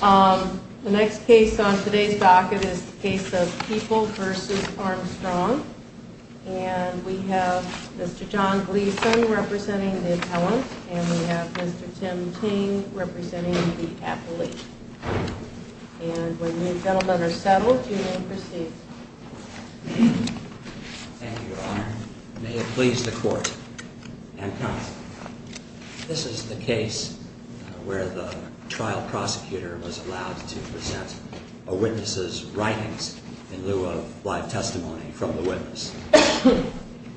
The next case on today's docket is the case of People v. Armstrong, and we have Mr. John Gleeson representing the appellant, and we have Mr. Tim Ting representing the appellate. And when you gentlemen are settled, you may proceed. Thank you, Your Honor. May it please the Court, and counsel. This is the case where the trial prosecutor was allowed to present a witness's writings in lieu of live testimony from the witness.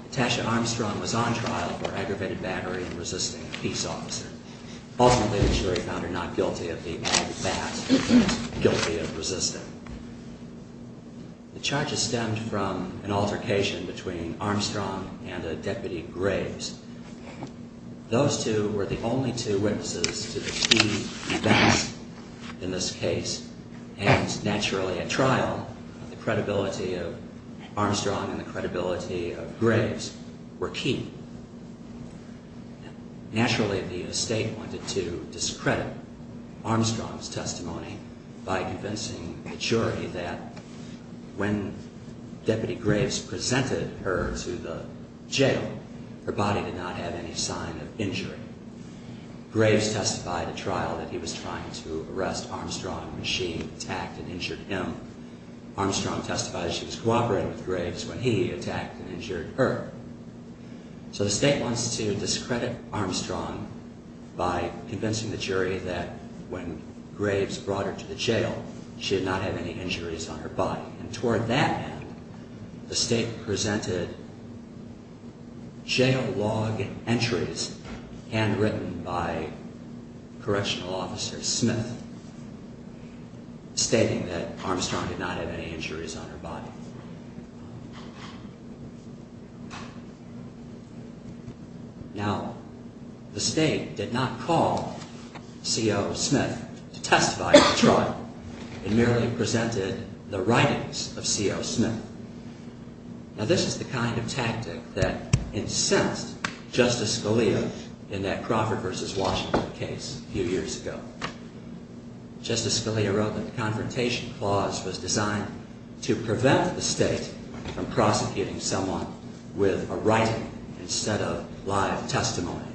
Natasha Armstrong was on trial for aggravated battery and resisting a peace officer. Ultimately, the jury found her not guilty of being a bat, but guilty of resisting. The charges stemmed from an altercation between Armstrong and a deputy Graves. Those two were the only two witnesses to the key events in this case, and naturally, at trial, the credibility of Armstrong and the credibility of Graves were key. Naturally, the estate wanted to discredit Armstrong's testimony by convincing the jury that when Deputy Graves presented her to the jail, her body did not have any sign of injury. Graves testified at trial that he was trying to arrest Armstrong when she attacked and injured him. Armstrong testified she was cooperating with Graves when he attacked and injured her. So the estate wants to discredit Armstrong by convincing the jury that when Graves brought her to the jail, she did not have any injuries on her body. Toward that end, the estate presented jail log entries handwritten by correctional officer Smith, stating that Armstrong did not have any injuries on her body. Now, the estate did not call C.O. Smith to testify at trial. It merely presented the writings of C.O. Smith. Now, this is the kind of tactic that incensed Justice Scalia in that Crawford v. Washington case a few years ago. Justice Scalia wrote that the Confrontation Clause was designed to prevent the estate from prosecuting someone with a writing instead of live testimony.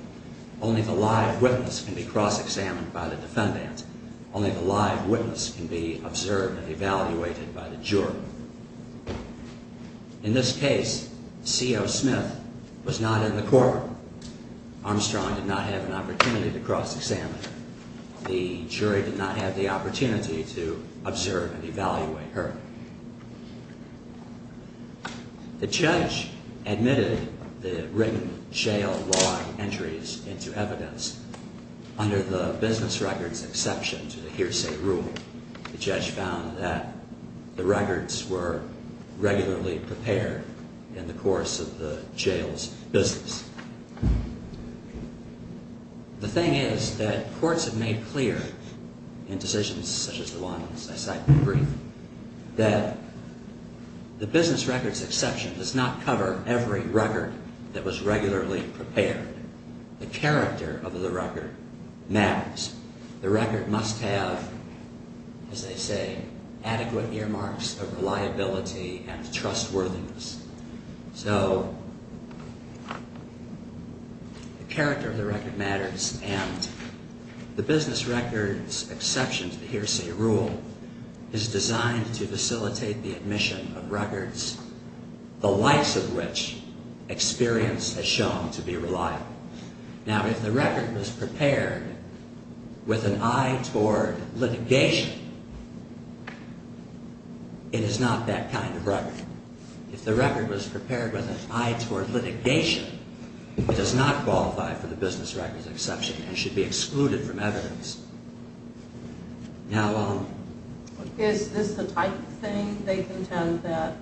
Only the live witness can be cross-examined by the defendant. Only the live witness can be observed and evaluated by the jury. In this case, C.O. Smith was not in the court. Armstrong did not have an opportunity to cross-examine her. The jury did not have the opportunity to observe and evaluate her. The judge admitted the written jail log entries into evidence under the business records exception to the hearsay rule. The judge found that the records were regularly prepared in the course of the jail's business. The thing is that courts have made clear in decisions such as the ones I cited in the brief that the business records exception does not cover every record that was regularly prepared. The character of the record matters. The record must have, as they say, adequate earmarks of reliability and trustworthiness. So the character of the record matters, and the business records exception to the hearsay rule is designed to facilitate the admission of records the likes of which experience has shown to be reliable. Now, if the record was prepared with an eye toward litigation, it is not that kind of record. If the record was prepared with an eye toward litigation, it does not qualify for the business records exception and should be excluded from evidence. Now... Is this the type of thing they contend that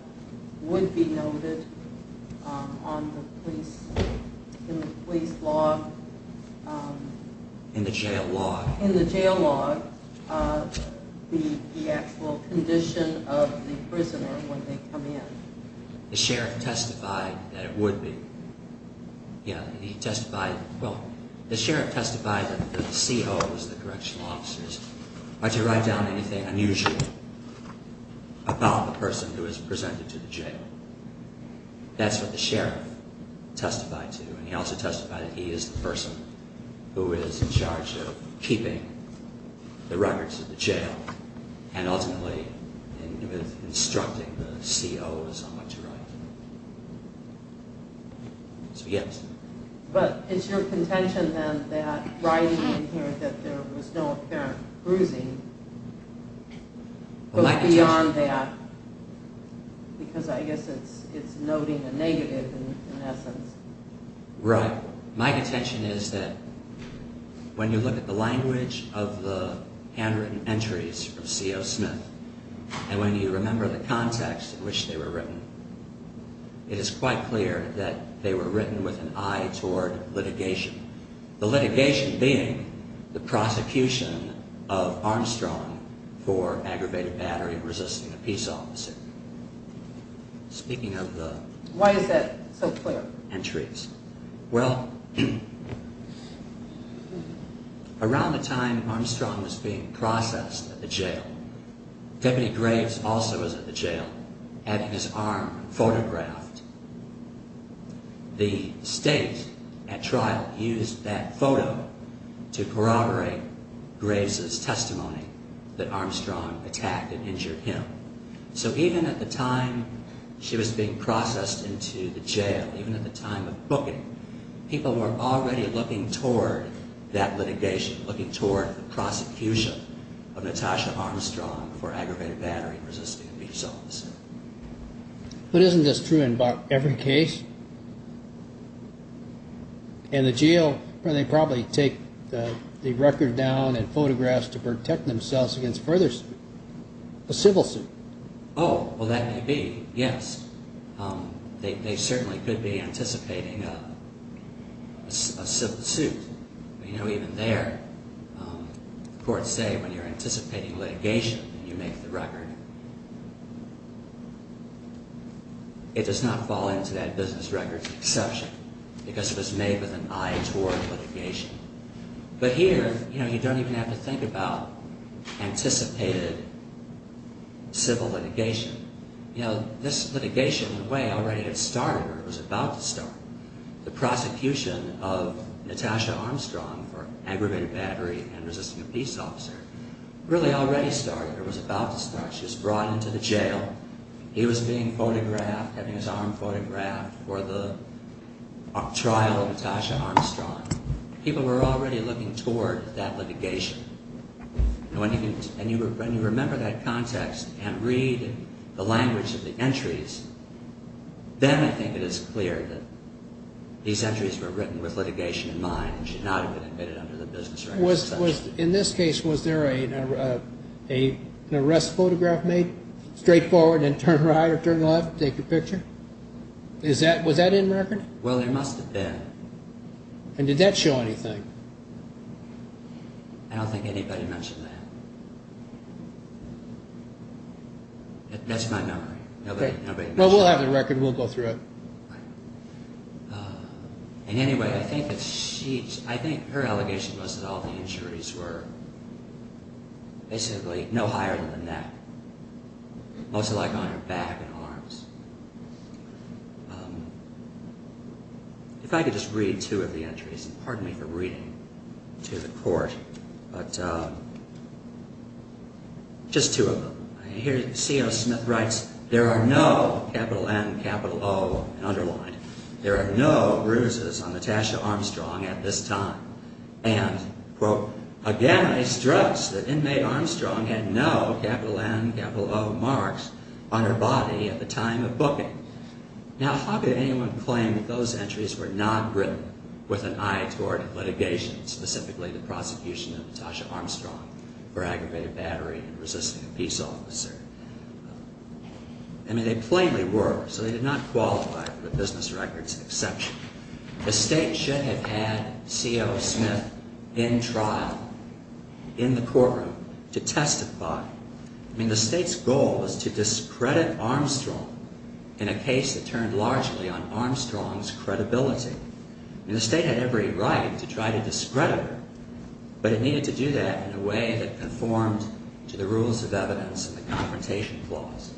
would be noted in the police law? In the jail law? In the jail law, the actual condition of the prisoner when they come in. The sheriff testified that it would be. He testified... Well, the sheriff testified that the COs, the correctional officers, are to write down anything unusual about the person who is presented to the jail. That's what the sheriff testified to. And he also testified that he is the person who is in charge of keeping the records at the jail and ultimately instructing the COs on what to write. So, yes. But it's your contention then that writing in here that there was no apparent bruising goes beyond that? Because I guess it's noting a negative in essence. Right. My contention is that when you look at the language of the handwritten entries of CO Smith, and when you remember the context in which they were written, it is quite clear that they were written with an eye toward litigation. The litigation being the prosecution of Armstrong for aggravated battery and resisting a peace officer. Speaking of the... Why is that so clear? Entries. Well... Around the time Armstrong was being processed at the jail, Deputy Graves also was at the jail, had his arm photographed. The state, at trial, used that photo to corroborate Graves' testimony that Armstrong attacked and injured him. So even at the time she was being processed into the jail, even at the time of booking, people were already looking toward that litigation, looking toward the prosecution of Natasha Armstrong for aggravated battery and resisting a peace officer. But isn't this true in about every case? In the jail, they probably take the record down and photographs to protect themselves against further... a civil suit. Oh, well, that may be, yes. They certainly could be anticipating a civil suit. You know, even there, courts say when you're anticipating litigation, you make the record. It does not fall into that business records exception because it was made with an eye toward litigation. But here, you know, you don't even have to think about anticipated civil litigation. You know, this litigation, in a way, already had started or was about to start. The prosecution of Natasha Armstrong for aggravated battery and resisting a peace officer really already started or was about to start. She was brought into the jail. He was being photographed, having his arm photographed for the trial of Natasha Armstrong. People were already looking toward that litigation. And when you remember that context and read the language of the entries, then I think it is clear that these entries were written with litigation in mind and should not have been admitted under the business records exception. In this case, was there an arrest photograph made? Straight forward and then turn right or turn left to take the picture? Was that in record? Well, there must have been. And did that show anything? I don't think anybody mentioned that. That's my memory. Well, we'll have the record. We'll go through it. And anyway, I think that she, I think her allegation was that all the injuries were basically no higher than the neck, mostly like on her back and arms. If I could just read two of the entries, and pardon me for reading to the court, but just two of them. Here, C.O. Smith writes, There are no capital N, capital O underlined. There are no bruises on Natasha Armstrong at this time. And, quote, Again, I stress that inmate Armstrong had no capital N, capital O marks on her body at the time of booking. Now, how could anyone claim that those entries were not written with an eye toward litigation, specifically the prosecution of Natasha Armstrong for aggravated battery and resisting a peace officer? I mean, they plainly were, so they did not qualify for the business records exception. The state should have had C.O. Smith in trial, in the courtroom, to testify. I mean, the state's goal was to discredit Armstrong in a case that turned largely on Armstrong's credibility. I mean, the state had every right to try to discredit her, but it needed to do that in a way that conformed to the rules of evidence and the Confrontation Clause.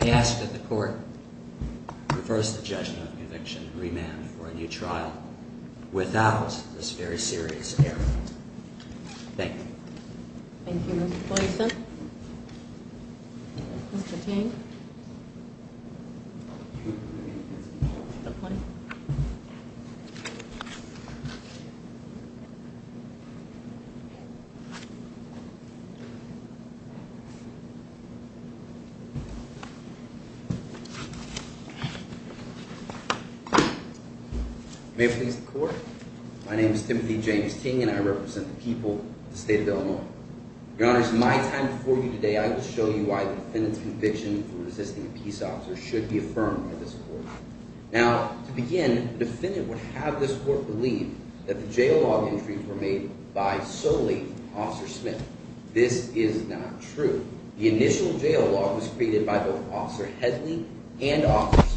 I ask that the Court reverse the judgment of conviction and remand for a new trial without this very serious error. Thank you. Thank you, Mr. Poisson. Mr. King. Mr. Poisson. May it please the Court. My name is Timothy James King, and I represent the people of the state of Illinois. Your Honors, in my time before you today, I will show you why the defendant's conviction for resisting a peace officer should be affirmed by this Court. Now, to begin, the defendant would have this Court believe that the jail log entries were made by solely Officer Smith. This is not true. The initial jail log was created by both Officer Hedley and Officer Smith.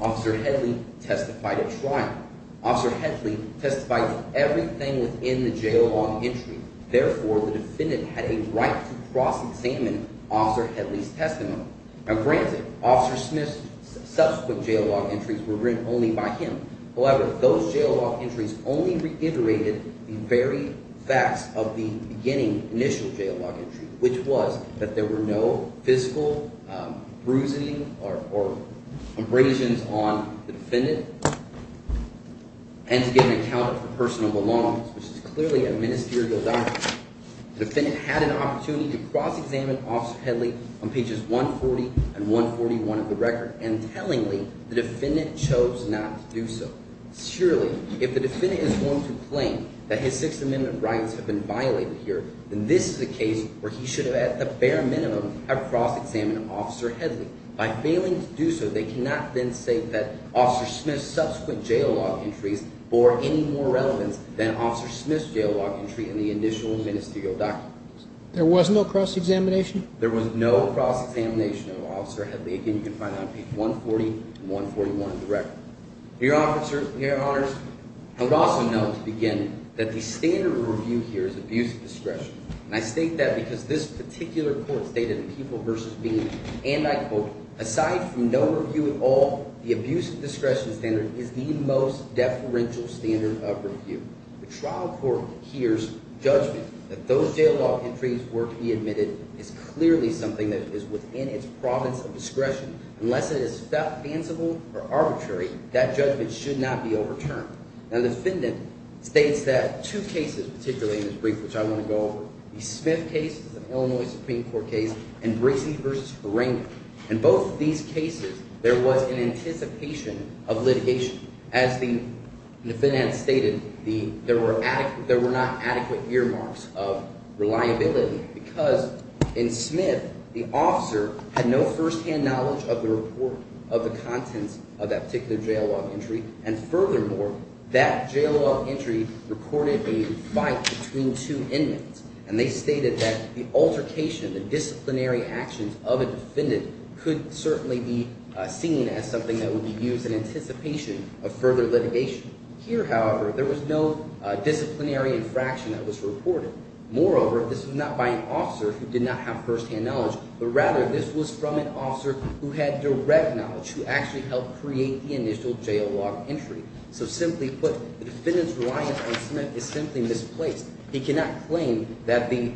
Officer Hedley testified at trial. Officer Hedley testified to everything within the jail log entry. Therefore, the defendant had a right to cross-examine Officer Hedley's testimony. Now, granted, Officer Smith's subsequent jail log entries were written only by him. However, those jail log entries only reiterated the very facts of the beginning, initial jail log entry, which was that there were no physical bruising or abrasions on the defendant and to get an account of personal belongings, which is clearly a ministerial document. The defendant had an opportunity to cross-examine Officer Hedley on pages 140 and 141 of the record, and tellingly, the defendant chose not to do so. Surely, if the defendant is going to claim that his Sixth Amendment rights have been violated here, then this is a case where he should have, at the bare minimum, have cross-examined Officer Hedley. By failing to do so, they cannot then say that Officer Smith's subsequent jail log entries bore any more relevance than Officer Smith's jail log entry in the initial ministerial documents. There was no cross-examination? There was no cross-examination of Officer Hedley. Again, you can find that on page 140 and 141 of the record. Your Honors, I would also note, to begin, that the standard of review here is abuse of discretion. And I state that because this particular court stated in People v. Bean, and I quote, aside from no review at all, the abuse of discretion standard is the most deferential standard of review. The trial court hears judgment that those jail log entries were to be admitted is clearly something that is within its province of discretion. Unless it is fanciful or arbitrary, that judgment should not be overturned. Now, the defendant states that two cases, particularly in this brief, which I want to go over, the Smith case, which is an Illinois Supreme Court case, and Briggs v. Karenga. In both of these cases, there was an anticipation of litigation. As the defendant had stated, there were not adequate earmarks of reliability because in Smith, the officer had no firsthand knowledge of the report of the contents of that particular jail log entry. And furthermore, that jail log entry recorded a fight between two inmates. And they stated that the altercation, the disciplinary actions of a defendant could certainly be seen as something that would be used in anticipation of further litigation. Here, however, there was no disciplinary infraction that was reported. Moreover, this was not by an officer who did not have firsthand knowledge, but rather this was from an officer who had direct knowledge, who actually helped create the initial jail log entry. So simply put, the defendant's reliance on Smith is simply misplaced. He cannot claim that the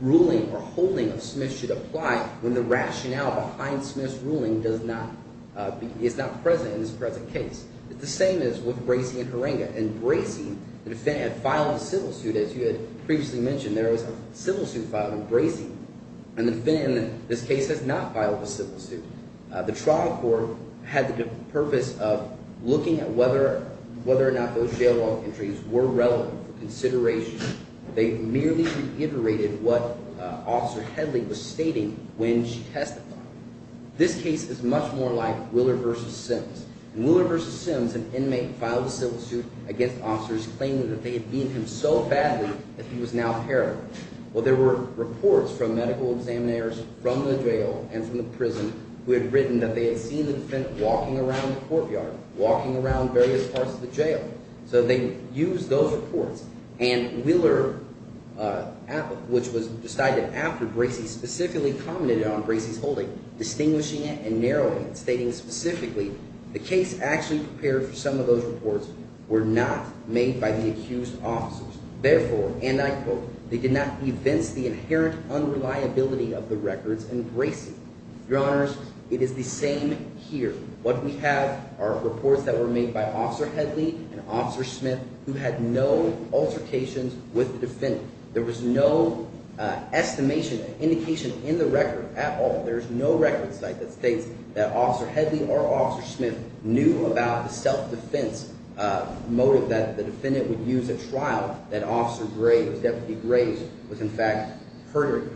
ruling or holding of Smith should apply when the rationale behind Smith's ruling does not – is not present in this present case. It's the same as with Bracey and Karenga. In Bracey, the defendant had filed a civil suit, as you had previously mentioned. There was a civil suit filed in Bracey, and the defendant in this case has not filed a civil suit. The trial court had the purpose of looking at whether or not those jail log entries were relevant for consideration. They merely reiterated what Officer Headley was stating when she testified. This case is much more like Willer v. Sims. In Willer v. Sims, an inmate filed a civil suit against officers, claiming that they had beaten him so badly that he was now paralyzed. Well, there were reports from medical examiners from the jail and from the prison who had written that they had seen the defendant walking around the courtyard, walking around various parts of the jail. So they used those reports, and Willer, which was decided after Bracey, specifically commented on Bracey's holding, distinguishing it and narrowing it, stating specifically the case actually prepared for some of those reports were not made by the accused officers. Therefore, and I quote, they did not evince the inherent unreliability of the records in Bracey. Your Honors, it is the same here. What we have are reports that were made by Officer Headley and Officer Smith who had no altercations with the defendant. There was no estimation, indication in the record at all. There is no record site that states that Officer Headley or Officer Smith knew about the self-defense motive that the defendant would use at trial that Officer Gray, Deputy Gray, was in fact hurting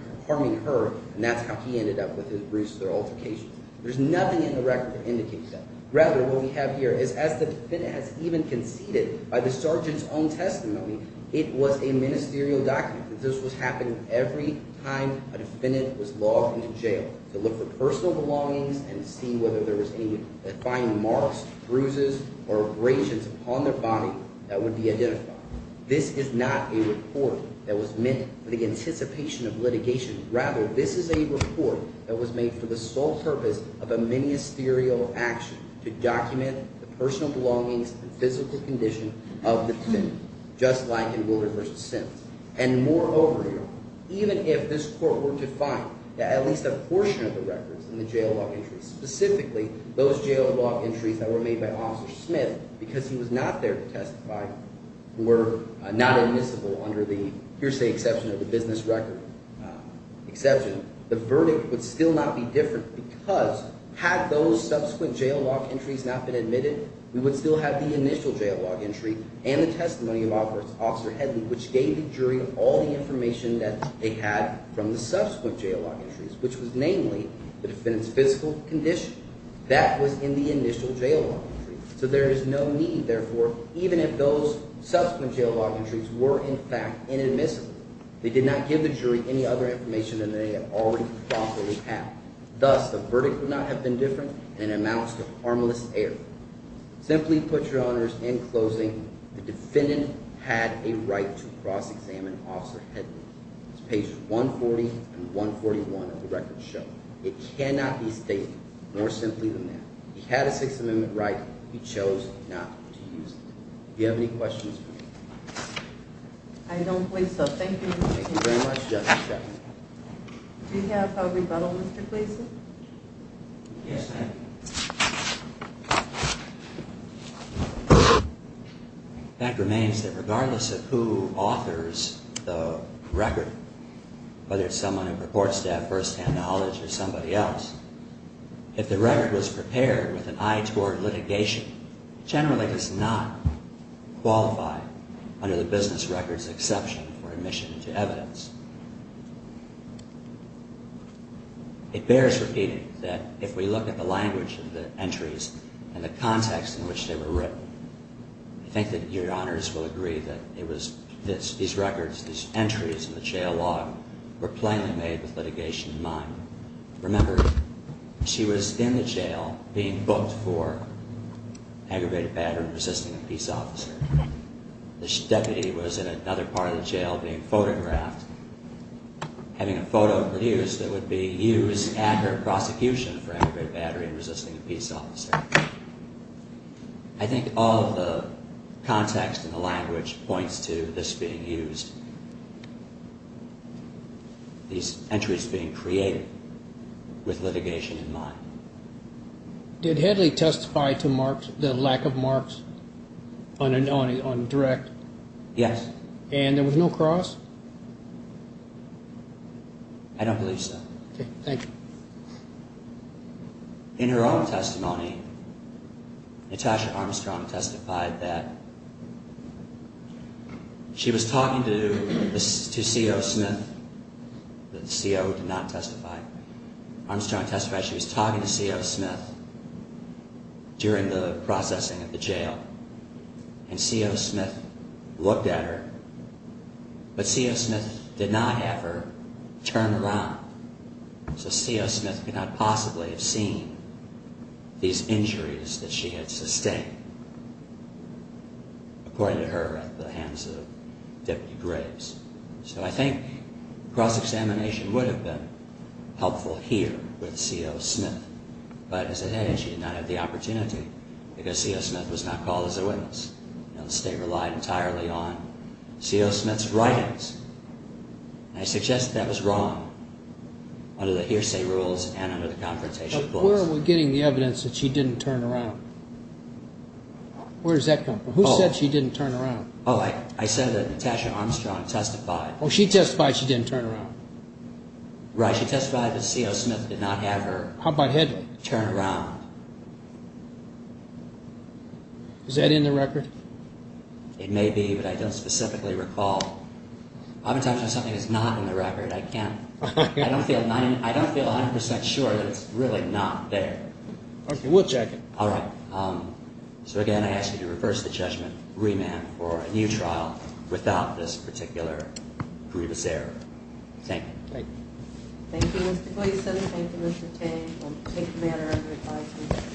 her, and that's how he ended up with his bruises or altercations. There's nothing in the record that indicates that. Rather, what we have here is as the defendant has even conceded by the sergeant's own testimony, it was a ministerial document that this was happening every time a defendant was logged into jail to look for personal belongings and see whether there was any defined marks, bruises, or abrasions upon their body that would be identified. This is not a report that was meant for the anticipation of litigation. Rather, this is a report that was made for the sole purpose of a ministerial action to document the personal belongings and physical condition of the defendant, just like in Wilder v. Sims. And moreover, even if this court were to find that at least a portion of the records in the jail log entries, specifically those jail log entries that were made by Officer Smith because he was not there to testify, were not admissible under the hearsay exception of the business record exception, the verdict would still not be different because had those subsequent jail log entries not been admitted, we would still have the initial jail log entry and the testimony of Officer Headley, which gave the jury all the information that they had from the subsequent jail log entries, which was namely the defendant's physical condition. That was in the initial jail log entry. So there is no need, therefore, even if those subsequent jail log entries were, in fact, inadmissible, they did not give the jury any other information than they had already promptly had. Thus, the verdict would not have been different and amounts to harmless error. Simply put, Your Honors, in closing, the defendant had a right to cross-examine Officer Headley. It's pages 140 and 141 of the record show. It cannot be stated more simply than that. He had a Sixth Amendment right. He chose not to use it. Do you have any questions for me? I don't believe so. Thank you, Mr. King. Thank you very much, Justice Ginsburg. Do you have a rebuttal, Mr. Gleeson? Yes, ma'am. That remains that regardless of who authors the record, whether it's someone who purports to have first-hand knowledge or somebody else, if the record was prepared with an eye toward litigation, it generally does not qualify under the business records exception for admission to evidence. It bears repeating that if we look at the language of the entries and the context in which they were written, I think that Your Honors will agree that these records, these entries in the jail log, were plainly made with litigation in mind. Remember, she was in the jail being booked for aggravated battery and resisting a peace officer. The deputy was in another part of the jail being photographed, having a photo produced that would be used at her prosecution for aggravated battery and resisting a peace officer. I think all of the context and the language points to this being used, these entries being created with litigation in mind. Did Headley testify to the lack of marks on direct? Yes. And there was no cross? I don't believe so. Okay. Thank you. In her own testimony, Natasha Armstrong testified that she was talking to C.O. Smith. The C.O. did not testify. Armstrong testified she was talking to C.O. Smith during the processing of the jail. And C.O. Smith looked at her, but C.O. Smith did not have her turn around. So C.O. Smith could not possibly have seen these injuries that she had sustained, according to her at the hands of Deputy Graves. So I think cross-examination would have been helpful here with C.O. Smith. But as it is, she did not have the opportunity because C.O. Smith was not called as a witness. The state relied entirely on C.O. Smith's writings. I suggest that was wrong under the hearsay rules and under the confrontation clause. But where are we getting the evidence that she didn't turn around? Where does that come from? Who said she didn't turn around? Oh, I said that Natasha Armstrong testified. Oh, she testified she didn't turn around. Right. She testified that C.O. Smith did not have her turn around. Is that in the record? It may be, but I don't specifically recall. Oftentimes when something is not in the record, I don't feel 100% sure that it's really not there. Okay. We'll check it. All right. So again, I ask that you reverse the judgment, remand for a new trial without this particular grievous error. Thank you. Thank you. Thank you, Mr. Gleason. Thank you, Mr. Tang. We'll take the matter under advisement.